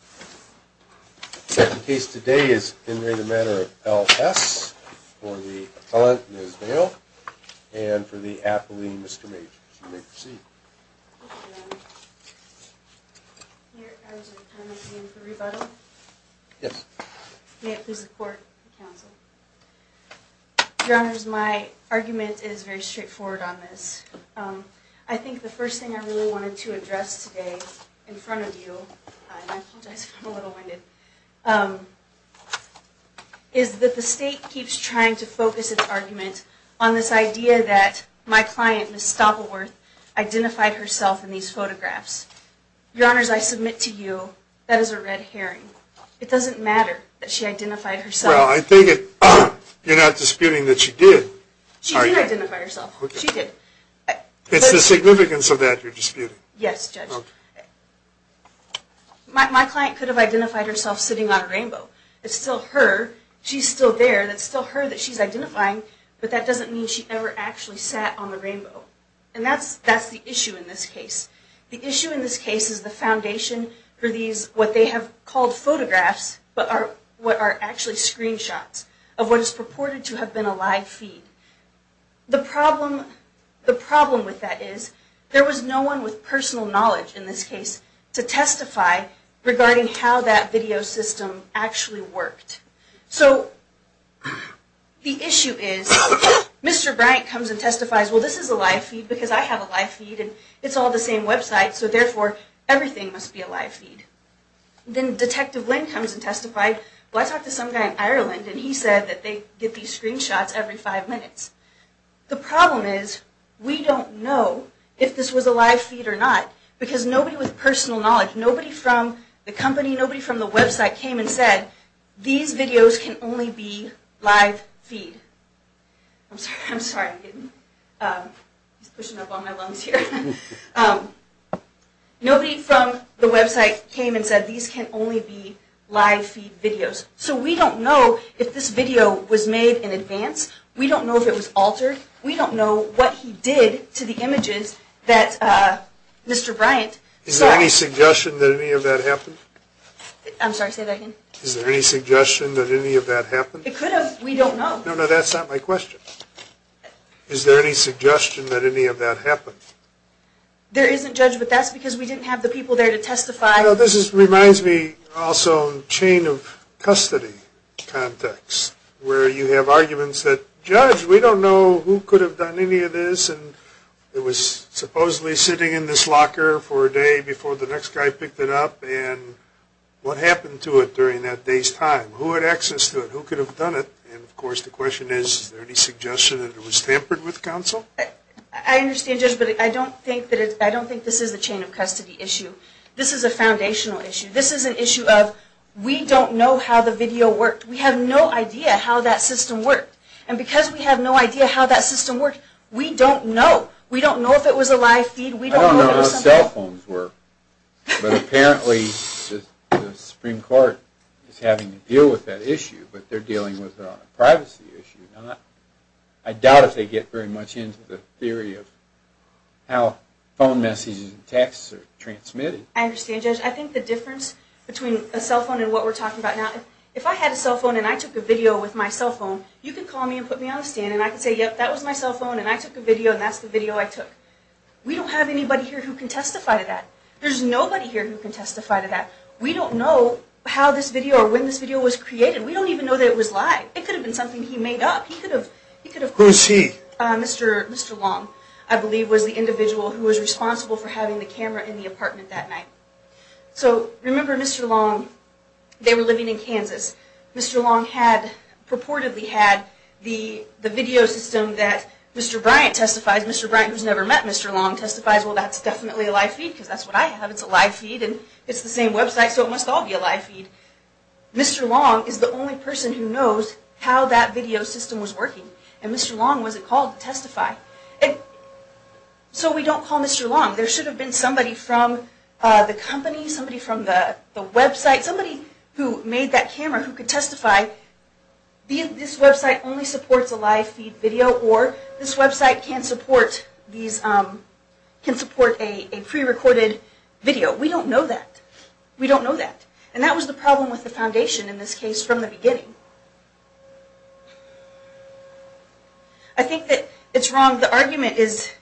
for the appellant, Ms. Vail, and for the appellee, Mr. Mages. You may proceed. Thank you, Your Honor. Your Honor, do you intend to make a motion for rebuttal? Yes. May it please the Court and the Counsel. Your Honors, my argument is very straightforward on this. I think the first thing I really wanted to address today in front of you, and I hope you'll do the same for me, because I'm a little winded, is that the State keeps trying to focus its argument on this idea that my client, Ms. Stoppelworth, identified herself in these photographs. Your Honors, I submit to you that is a red herring. It doesn't matter that she identified herself. Well, I think you're not disputing that she did. She did identify herself. She did. It's the significance of that you're disputing. Yes, Judge. My client could have identified herself sitting on a rainbow. It's still her. She's still there. It's still her that she's identifying, but that doesn't mean she ever actually sat on the rainbow. And that's the issue in this case. The issue in this case is the foundation for these, what they have called photographs, but are actually screenshots of what is purported to have been a live feed. The problem with that is there was no one with personal knowledge in this case to testify regarding how that video system actually worked. So the issue is Mr. Bryant comes and testifies, well, this is a live feed because I have a live feed, and it's all the same website, so therefore everything must be a live feed. Then Detective Lynn comes and testifies, well, I talked to some guy in Ireland, and he said that they get these screenshots every five minutes. The problem is we don't know if this was a live feed or not because nobody with personal knowledge, nobody from the company, nobody from the website came and said, these videos can only be live feed. I'm sorry. I'm sorry. He's pushing up on my lungs here. Nobody from the website came and said these can only be live feed videos. So we don't know if this video was made in advance. We don't know if it was altered. We don't know what he did to the images that Mr. Bryant saw. Is there any suggestion that any of that happened? I'm sorry. Say that again. Is there any suggestion that any of that happened? It could have. We don't know. No, no, that's not my question. Is there any suggestion that any of that happened? There isn't, Judge, but that's because we didn't have the people there to testify. This reminds me also of chain of custody context where you have arguments that, Judge, we don't know who could have done any of this, and it was supposedly sitting in this locker for a day before the next guy picked it up, and what happened to it during that day's time? Who had access to it? Who could have done it? And, of course, the question is, is there any suggestion that it was tampered with, Counsel? I understand, Judge, but I don't think this is a chain of custody issue. This is a foundational issue. This is an issue of we don't know how the video worked. We have no idea how that system worked, and because we have no idea how that system worked, we don't know. We don't know if it was a live feed. I don't know how cell phones work, but apparently the Supreme Court is having to deal with that issue, but they're dealing with it on a privacy issue. I doubt if they get very much into the theory of how phone messages and texts are transmitted. I understand, Judge. I think the difference between a cell phone and what we're talking about now, if I had a cell phone and I took a video with my cell phone, you could call me and put me on the stand, and I could say, yep, that was my cell phone, and I took a video, and that's the video I took. We don't have anybody here who can testify to that. There's nobody here who can testify to that. We don't know how this video or when this video was created. We don't even know that it was live. It could have been something he made up. Who is he? Mr. Long, I believe, was the individual who was responsible for having the camera in the apartment that night. Remember Mr. Long. They were living in Kansas. Mr. Long had purportedly had the video system that Mr. Bryant testifies. Mr. Bryant, who's never met Mr. Long, testifies, well, that's definitely a live feed because that's what I have. It's a live feed, and it's the same website, so it must all be a live feed. Mr. Long is the only person who knows how that video system was working, and Mr. Long was the call to testify. So we don't call Mr. Long. There should have been somebody from the company, somebody from the website, somebody who made that camera who could testify. This website only supports a live feed video, or this website can support a prerecorded video. We don't know that. We don't know that. And that was the problem with the foundation in this case from the beginning. I think that it's wrong. The argument is,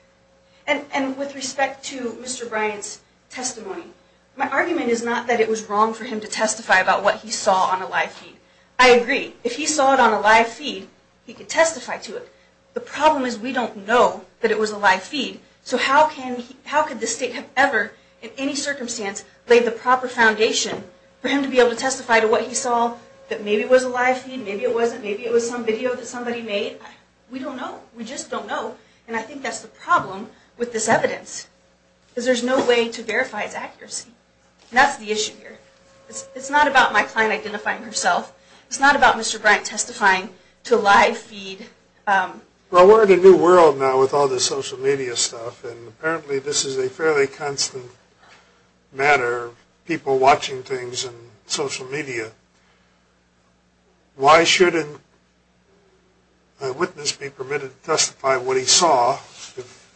and with respect to Mr. Bryant's testimony, my argument is not that it was wrong for him to testify about what he saw on a live feed. I agree. If he saw it on a live feed, he could testify to it. The problem is we don't know that it was a live feed, so how could the state have ever, in any circumstance, laid the proper foundation for him to be able to testify to what he saw, that maybe it was a live feed, maybe it wasn't, maybe it was some video that somebody made? We don't know. We just don't know. And I think that's the problem with this evidence, because there's no way to verify its accuracy. And that's the issue here. It's not about my client identifying herself. It's not about Mr. Bryant testifying to a live feed. Well, we're in a new world now with all this social media stuff, and apparently this is a fairly constant matter, people watching things on social media. Why shouldn't a witness be permitted to testify to what he saw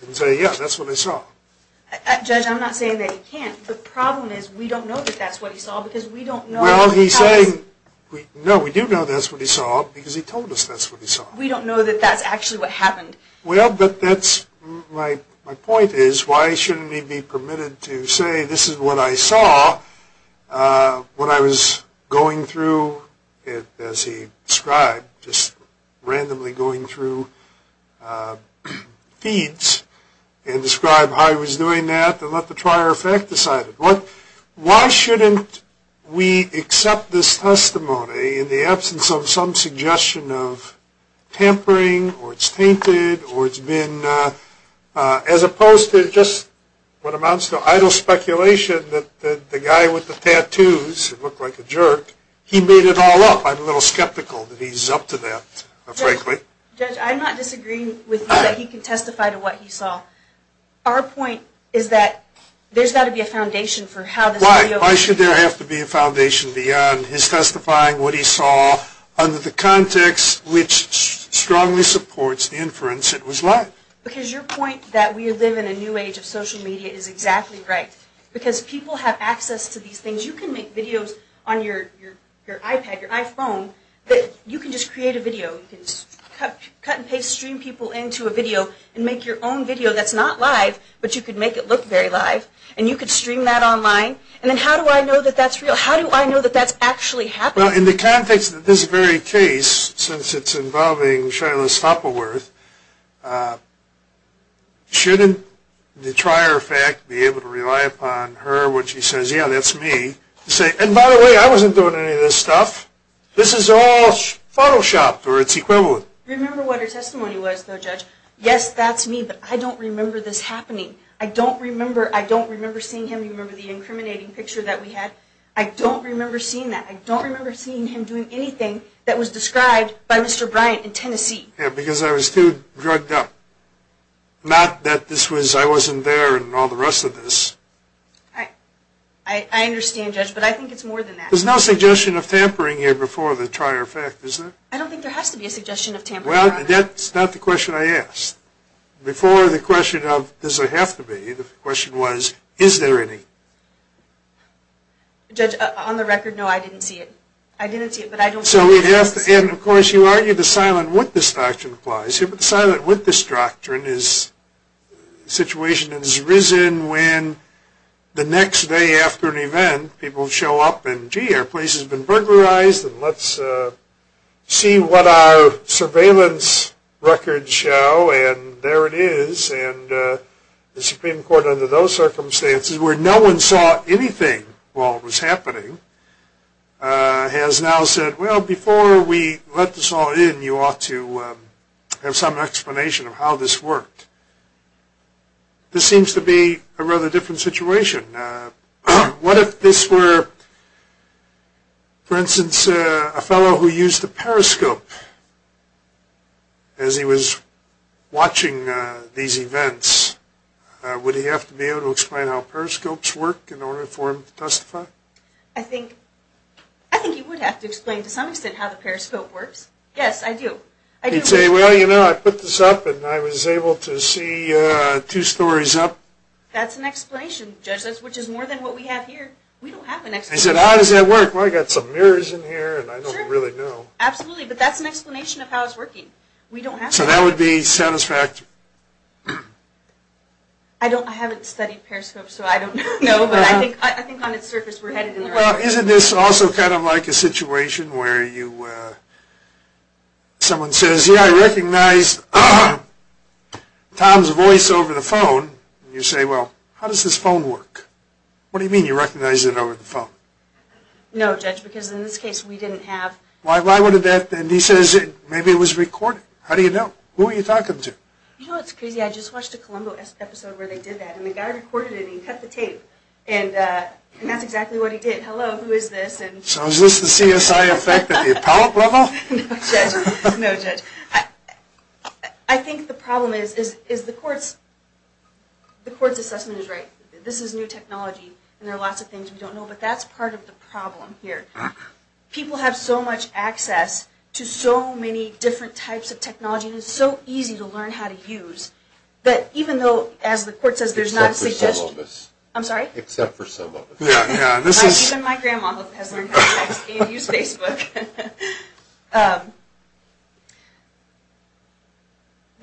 and say, yeah, that's what he saw? Judge, I'm not saying that he can't. The problem is we don't know that that's what he saw because we don't know. Well, he's saying, no, we do know that's what he saw because he told us that's what he saw. We don't know that that's actually what happened. Well, but that's my point is, why shouldn't he be permitted to say, this is what I saw when I was going through, as he described, just randomly going through feeds and describe how he was doing that and let the prior effect decide it. Why shouldn't we accept this testimony in the absence of some suggestion of tampering or it's tainted or it's been, as opposed to just what amounts to idle speculation that the guy with the tattoos looked like a jerk. He made it all up. I'm a little skeptical that he's up to that, frankly. Judge, I'm not disagreeing with you that he can testify to what he saw. Our point is that there's got to be a foundation for how this video- Why should there have to be a foundation beyond his testifying what he saw under the context which strongly supports the inference it was live. Because your point that we live in a new age of social media is exactly right because people have access to these things. You can make videos on your iPad, your iPhone. You can just create a video. You can cut and paste stream people into a video and make your own video that's not live but you could make it look very live and you could stream that online. And then how do I know that that's real? How do I know that that's actually happening? Well, in the context of this very case, since it's involving Shaila Stoppilworth, shouldn't the prior effect be able to rely upon her when she says, yeah, that's me, to say, and by the way, I wasn't doing any of this stuff. This is all Photoshopped or its equivalent. Remember what her testimony was, though, Judge. Yes, that's me, but I don't remember this happening. I don't remember seeing him. You remember the incriminating picture that we had? I don't remember seeing that. I don't remember seeing him doing anything that was described by Mr. Bryant in Tennessee. Yeah, because I was too drugged up. Not that this was I wasn't there and all the rest of this. I understand, Judge, but I think it's more than that. There's no suggestion of tampering here before the prior effect, is there? I don't think there has to be a suggestion of tampering. Well, that's not the question I asked. Before the question of does it have to be, the question was, is there any? Judge, on the record, no, I didn't see it. I didn't see it, but I don't think it has to be. And, of course, you argue the silent witness doctrine applies here, but the silent witness doctrine is a situation that has risen when the next day after an event, people show up and, gee, our place has been burglarized, and let's see what our surveillance records show, and there it is. And the Supreme Court, under those circumstances, where no one saw anything while it was happening, has now said, well, before we let this all in, you ought to have some explanation of how this worked. This seems to be a rather different situation. What if this were, for instance, a fellow who used a periscope as he was watching these events? Would he have to be able to explain how periscopes work in order for him to testify? I think he would have to explain to some extent how the periscope works. Yes, I do. He'd say, well, you know, I put this up, and I was able to see two stories up. That's an explanation, Judge, which is more than what we have here. We don't have an explanation. He said, how does that work? Well, I've got some mirrors in here, and I don't really know. Absolutely, but that's an explanation of how it's working. We don't have to. So that would be satisfactory. I haven't studied periscopes, so I don't know, but I think on its surface we're headed in the right direction. Well, isn't this also kind of like a situation where someone says, gee, I recognize Tom's voice over the phone, and you say, well, how does this phone work? What do you mean you recognize it over the phone? No, Judge, because in this case we didn't have. Why would that? And he says maybe it was recorded. How do you know? Who were you talking to? You know what's crazy? I just watched a Columbo episode where they did that, and the guy recorded it, and he cut the tape, and that's exactly what he did. Hello, who is this? So is this the CSI effect at the appellate level? No, Judge. No, Judge. I think the problem is the court's assessment is right. This is new technology, and there are lots of things we don't know, but that's part of the problem here. People have so much access to so many different types of technology, and it's so easy to learn how to use, that even though, as the court says, there's not a suggestion. Except for some of us. I'm sorry? Except for some of us. Even my grandma has learned how to use Facebook.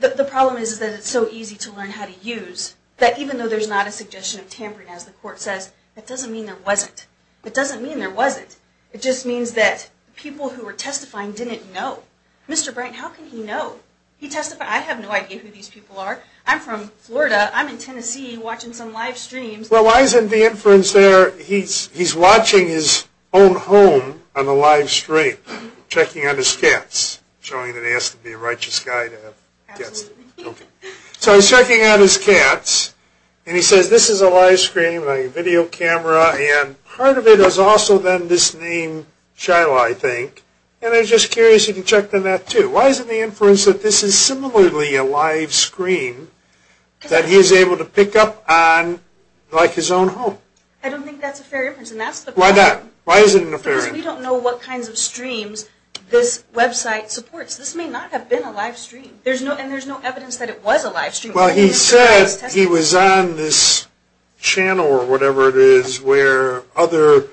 The problem is that it's so easy to learn how to use, that even though there's not a suggestion of tampering, as the court says, it doesn't mean there wasn't. It doesn't mean there wasn't. It just means that people who were testifying didn't know. Mr. Bright, how can he know? He testified. I have no idea who these people are. I'm from Florida. I'm in Tennessee watching some live streams. Well, why isn't the inference there he's watching his own home on the live stream, checking on his cats, showing that he has to be a righteous guy to have cats? Absolutely. Okay. So he's checking on his cats, and he says, this is a live stream, a video camera, and part of it is also then this name Shiloh, I think. And I'm just curious if you can check on that, too. Why is it the inference that this is similarly a live screen that he's able to pick up on like his own home? I don't think that's a fair inference, and that's the problem. Why is it an unfair inference? Because we don't know what kinds of streams this website supports. This may not have been a live stream, and there's no evidence that it was a live stream. Well, he said he was on this channel or whatever it is where other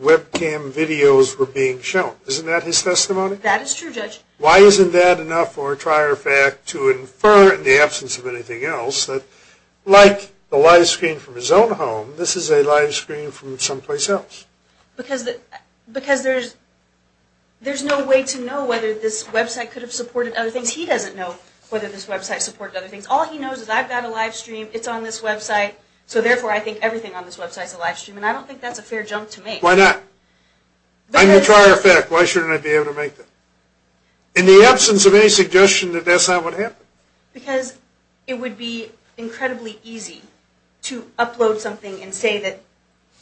webcam videos were being shown. Isn't that his testimony? That is true, Judge. Why isn't that enough for a trier fact to infer in the absence of anything else that, like the live screen from his own home, this is a live screen from someplace else? Because there's no way to know whether this website could have supported other things. He doesn't know whether this website supported other things. All he knows is I've got a live stream, it's on this website, so therefore I think everything on this website is a live stream, and I don't think that's a fair jump to make. Why not? I'm a trier fact. Why shouldn't I be able to make that? In the absence of any suggestion that that's not what happened. Because it would be incredibly easy to upload something and say that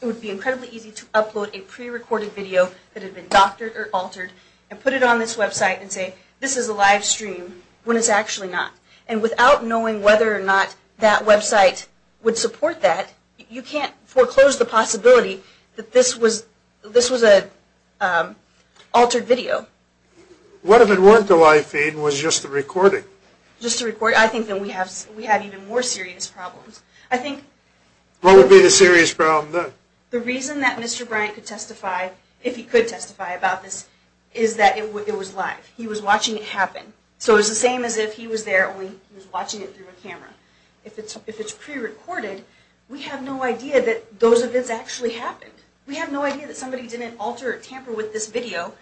it would be incredibly easy to upload a prerecorded video that had been doctored or altered and put it on this website and say this is a live stream when it's actually not. And without knowing whether or not that website would support that, you can't foreclose the possibility that this was an altered video. What if it weren't a live feed and it was just a recording? Just a recording. I think then we have even more serious problems. What would be the serious problem then? The reason that Mr. Bryant could testify, if he could testify about this, is that it was live. He was watching it happen. So it was the same as if he was there and he was watching it through a camera. If it's prerecorded, we have no idea that those events actually happened. We have no idea that somebody didn't alter or tamper with this video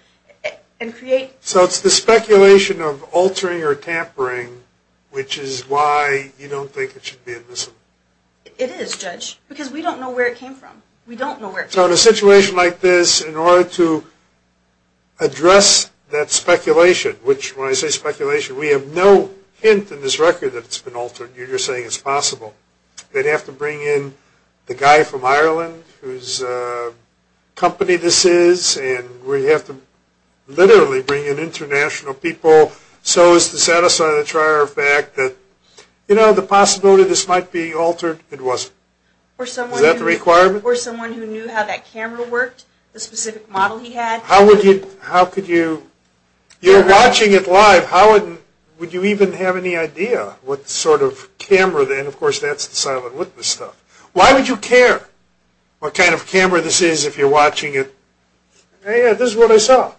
and create... So it's the speculation of altering or tampering which is why you don't think it should be admissible. It is, Judge, because we don't know where it came from. We don't know where it came from. So in a situation like this, in order to address that speculation, which when I say speculation we have no hint in this record that it's been altered. You're just saying it's possible. They'd have to bring in the guy from Ireland whose company this is and we'd have to literally bring in international people so as to satisfy the trier of fact that, you know, the possibility this might be altered, it wasn't. Is that the requirement? Or someone who knew how that camera worked, the specific model he had. How could you... You're watching it live. How would you even have any idea what sort of camera... And, of course, that's the silent witness stuff. Why would you care what kind of camera this is if you're watching it? Hey, this is what I saw.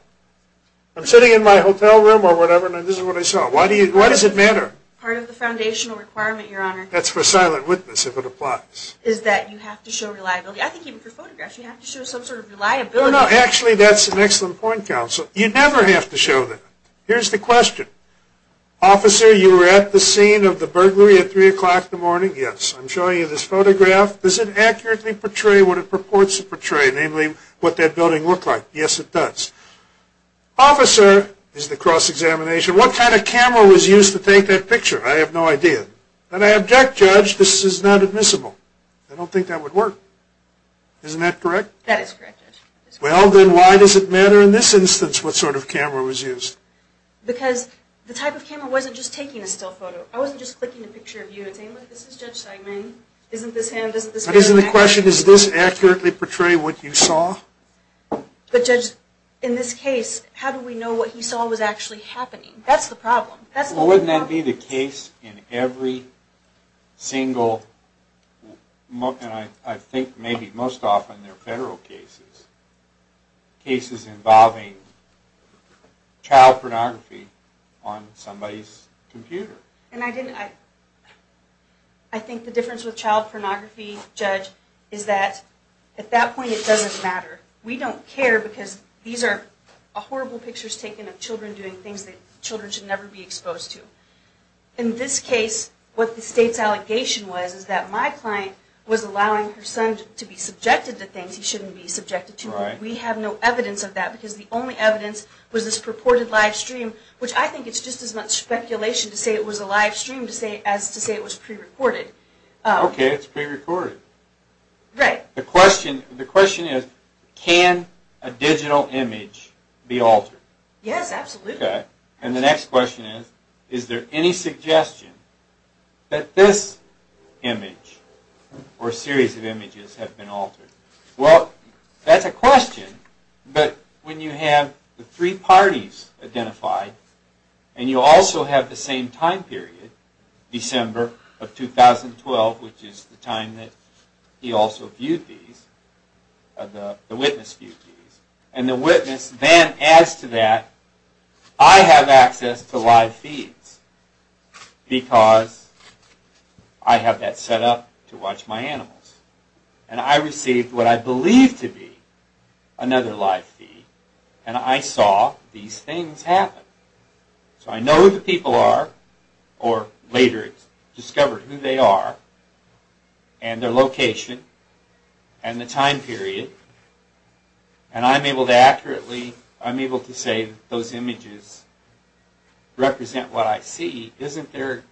I'm sitting in my hotel room or whatever and this is what I saw. Why does it matter? Part of the foundational requirement, Your Honor... That's for silent witness if it applies. Is that you have to show reliability. I think even for photographs you have to show some sort of reliability. No, no, actually that's an excellent point, Counsel. You never have to show that. Here's the question. Officer, you were at the scene of the burglary at 3 o'clock in the morning? Yes. I'm showing you this photograph. Does it accurately portray what it purports to portray, namely what that building looked like? Yes, it does. Officer is the cross-examination. What kind of camera was used to take that picture? I have no idea. And I object, Judge, this is not admissible. I don't think that would work. Isn't that correct? That is correct, Judge. Well, then why does it matter in this instance what sort of camera was used? Because the type of camera wasn't just taking a still photo. I wasn't just clicking a picture of you and saying, look, this is Judge Seidman, isn't this him, isn't this him? But isn't the question, does this accurately portray what you saw? But, Judge, in this case, how do we know what he saw was actually happening? That's the problem. Well, wouldn't that be the case in every single, and I think maybe most often they're federal cases, cases involving child pornography on somebody's computer. And I think the difference with child pornography, Judge, is that at that point it doesn't matter. We don't care because these are horrible pictures taken of children doing things that children should never be exposed to. In this case, what the state's allegation was is that my client was allowing her son to be subjected to things he shouldn't be subjected to. We have no evidence of that because the only evidence was this purported live stream, which I think it's just as much speculation to say it was a live stream as to say it was prerecorded. Okay, it's prerecorded. Right. The question is, can a digital image be altered? Yes, absolutely. Okay, and the next question is, is there any suggestion that this image or series of images have been altered? Well, that's a question, but when you have the three parties identified and you also have the same time period, December of 2012, which is the time that he also viewed these, the witness viewed these, and the witness then adds to that, I have access to live feeds because I have that set up to watch my animals. And I received what I believed to be another live feed, and I saw these things happen. So I know who the people are, or later discovered who they are and their location and the time period, and I'm able to accurately, I'm able to say those images represent what I see. Isn't there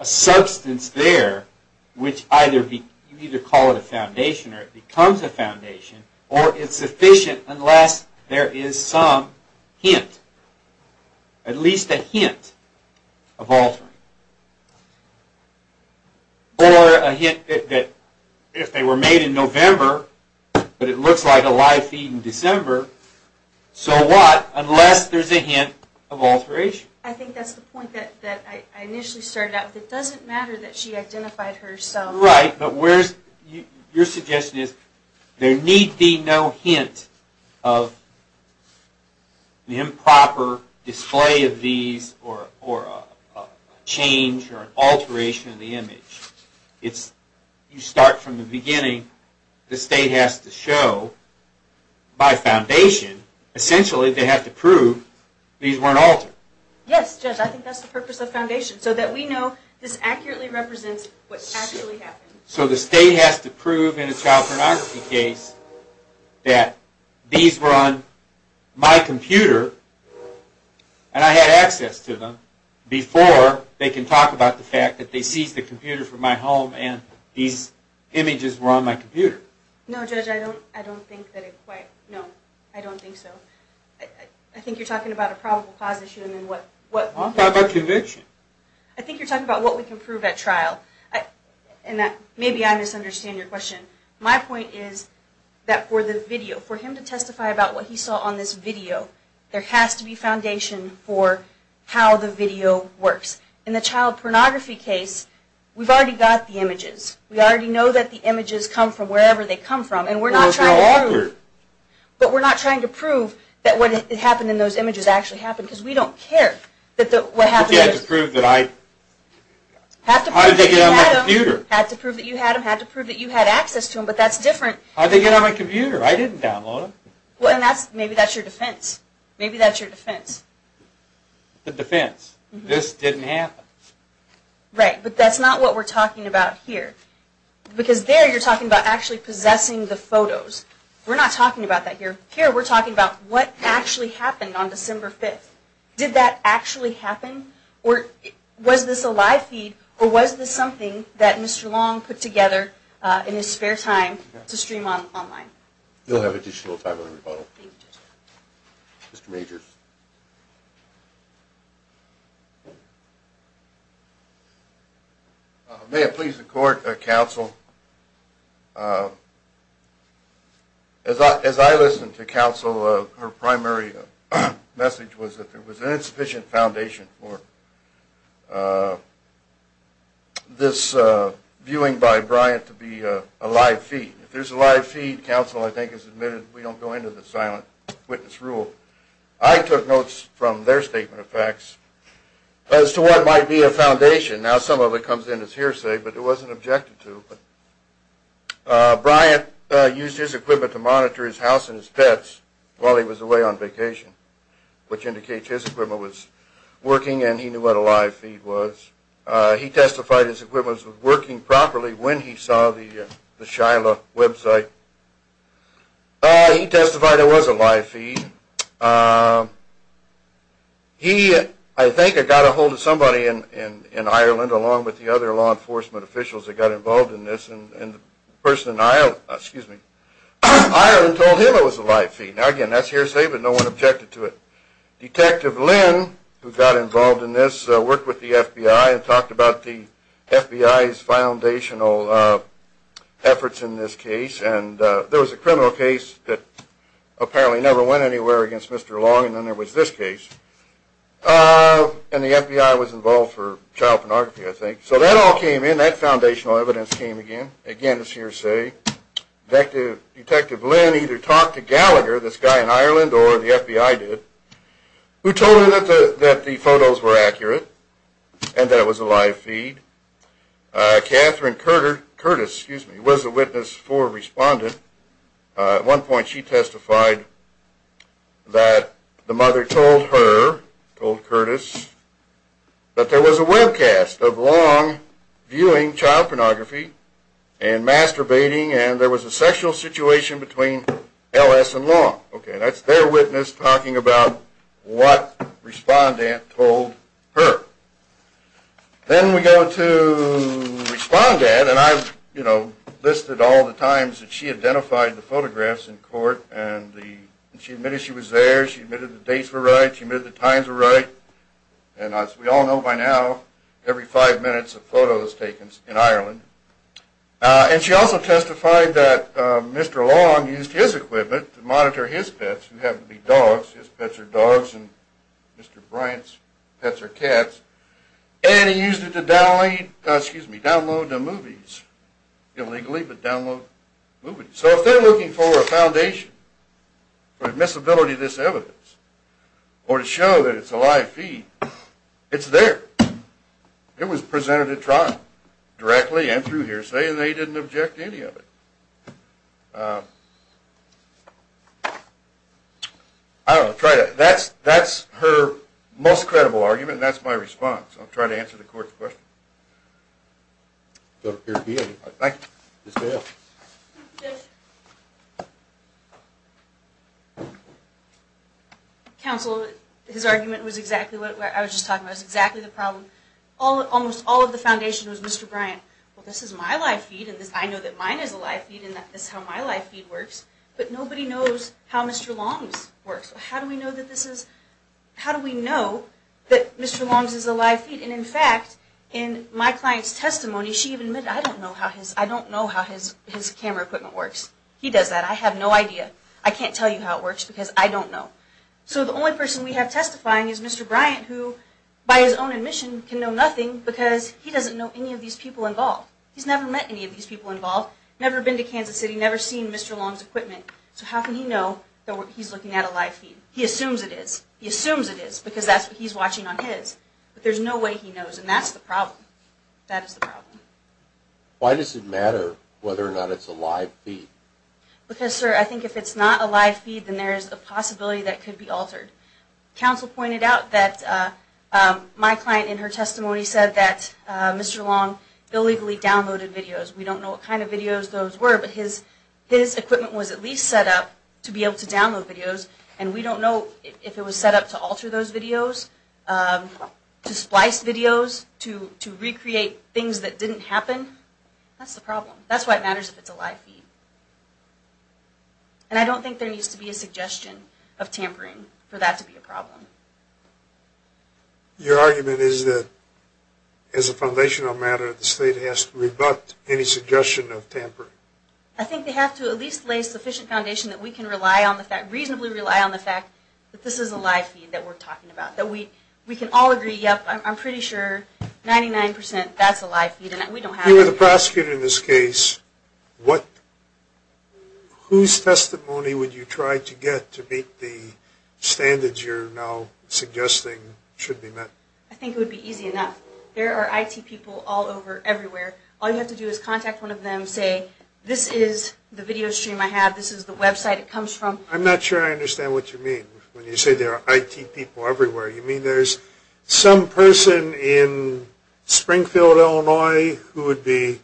a substance there which either be, you either call it a foundation or it becomes a foundation, or it's sufficient unless there is some hint, at least a hint of altering. Or a hint that if they were made in November, but it looks like a live feed in December, so what, unless there's a hint of alteration. I think that's the point that I initially started out with. It doesn't matter that she identified herself. Right, but where's, your suggestion is there need be no hint of the improper display of these or a change or alteration of the image. It's, you start from the beginning. The state has to show, by foundation, essentially they have to prove these weren't altered. Yes, Judge, I think that's the purpose of foundation, so that we know this accurately represents what actually happened. So the state has to prove in a child pornography case that these were on my computer, and I had access to them, before they can talk about the fact that they seized the computer from my home and these images were on my computer. No, Judge, I don't think that it quite, no, I don't think so. I think you're talking about a probable cause issue and then what... I'm talking about conviction. I think you're talking about what we can prove at trial. Maybe I misunderstand your question. My point is that for the video, for him to testify about what he saw on this video, there has to be foundation for how the video works. In the child pornography case, we've already got the images. We already know that the images come from wherever they come from, and we're not trying to prove... But we're not trying to prove that what happened in those images actually happened, because we don't care. You have to prove that I... How did they get on my computer? You have to prove that you had access to them, but that's different. How did they get on my computer? I didn't download them. Maybe that's your defense. Maybe that's your defense. The defense, this didn't happen. Right, but that's not what we're talking about here, because there you're talking about actually possessing the photos. We're not talking about that here. Here we're talking about what actually happened on December 5th. Did that actually happen, or was this a live feed, or was this something that Mr. Long put together in his spare time to stream online? We'll have additional time on rebuttal. Mr. Majors. May it please the court, counsel, as I listened to counsel, her primary message was that there was an insufficient foundation for this viewing by Bryant to be a live feed. If there's a live feed, counsel, I think, has admitted we don't go into the silent witness rule. I took notes from their statement of facts as to what might be a foundation. Now some of it comes in as hearsay, but it wasn't objected to. Bryant used his equipment to monitor his house and his pets while he was away on vacation, which indicates his equipment was working and he knew what a live feed was. He testified his equipment was working properly when he saw the Shiloh website. He testified it was a live feed. He, I think, got a hold of somebody in Ireland, along with the other law enforcement officials that got involved in this, and the person in Ireland told him it was a live feed. Now again, that's hearsay, but no one objected to it. Detective Lynn, who got involved in this, worked with the FBI and talked about the FBI's foundational efforts in this case, and there was a criminal case that apparently never went anywhere against Mr. Long, and then there was this case, and the FBI was involved for child pornography, I think. So that all came in. That foundational evidence came again. Again, it's hearsay. Detective Lynn either talked to Gallagher, this guy in Ireland, or the FBI did, who told her that the photos were accurate and that it was a live feed. Catherine Curtis was a witness for Respondent. At one point she testified that the mother told her, told Curtis, that there was a webcast of Long viewing child pornography and masturbating, and there was a sexual situation between L.S. and Long. That's their witness talking about what Respondent told her. Then we go to Respondent, and I've listed all the times that she identified the photographs in court, and she admitted she was there, she admitted the dates were right, she admitted the times were right, and as we all know by now, every five minutes a photo is taken in Ireland. And she also testified that Mr. Long used his equipment to monitor his pets, who happened to be dogs, his pets are dogs, and Mr. Bryant's pets are cats, and he used it to download the movies, illegally, but download movies. So if they're looking for a foundation for admissibility of this evidence, or to show that it's a live feed, it's there. It was presented at trial, directly and through hearsay, and they didn't object to any of it. That's her most credible argument, and that's my response. I'll try to answer the court's question. Counsel, his argument was exactly what I was just talking about. It was exactly the problem. Almost all of the foundation was Mr. Bryant. Well, this is my live feed, and I know that mine is a live feed, and that's how my live feed works, but nobody knows how Mr. Long's works. How do we know that this is, how do we know that Mr. Long's is a live feed? And in fact, in my client's testimony, she even admitted, I don't know how his camera equipment works. He does that. I have no idea. I can't tell you how it works, because I don't know. So the only person we have testifying is Mr. Bryant, who, by his own admission, can know nothing, because he doesn't know any of these people involved. He's never met any of these people involved, never been to Kansas City, never seen Mr. Long's equipment. So how can he know that he's looking at a live feed? He assumes it is. He assumes it is, because that's what he's watching on his. But there's no way he knows, and that's the problem. That is the problem. Why does it matter whether or not it's a live feed? Because, sir, I think if it's not a live feed, then there is a possibility that it could be altered. Counsel pointed out that my client, in her testimony, said that Mr. Long illegally downloaded videos. We don't know what kind of videos those were, but his equipment was at least set up to be able to download videos, and we don't know if it was set up to alter those videos, to splice videos, to recreate things that didn't happen. That's the problem. That's why it matters if it's a live feed. And I don't think there needs to be a suggestion of tampering for that to be a problem. Your argument is that, as a foundational matter, the state has to rebut any suggestion of tampering? I think they have to at least lay sufficient foundation that we can reasonably rely on the fact that this is a live feed that we're talking about. That we can all agree, yep, I'm pretty sure, 99 percent, that's a live feed, and we don't have it. You are the prosecutor in this case. Whose testimony would you try to get to meet the standards you're now suggesting should be met? I think it would be easy enough. There are IT people all over, everywhere. All you have to do is contact one of them, say, this is the video stream I have, this is the website it comes from. I'm not sure I understand what you mean when you say there are IT people everywhere. You mean there's some person in Springfield, Illinois, who would be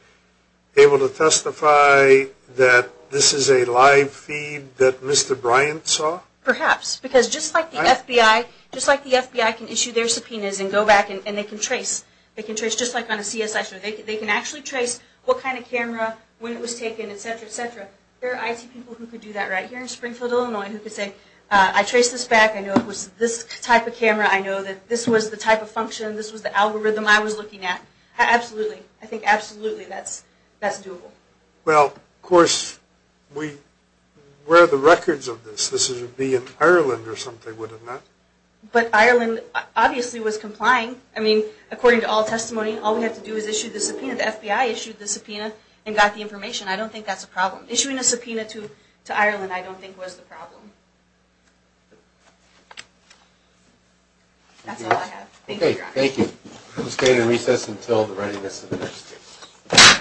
able to testify that this is a live feed that Mr. Bryant saw? Perhaps, because just like the FBI, just like the FBI can issue their subpoenas and go back and they can trace, they can trace just like on a CSI, they can actually trace what kind of camera, when it was taken, et cetera, et cetera. There are IT people who could do that right here in Springfield, Illinois, who could say, I traced this back, I know it was this type of camera, I know that this was the type of function, this was the algorithm I was looking at. Absolutely, I think absolutely that's doable. Well, of course, where are the records of this? This would be in Ireland or something, wouldn't it? But Ireland obviously was complying. I mean, according to all testimony, all we have to do is issue the subpoena. The FBI issued the subpoena and got the information. I don't think that's a problem. That's all I have. Thank you. Okay, thank you. Let's go ahead and recess until the readiness of the next case.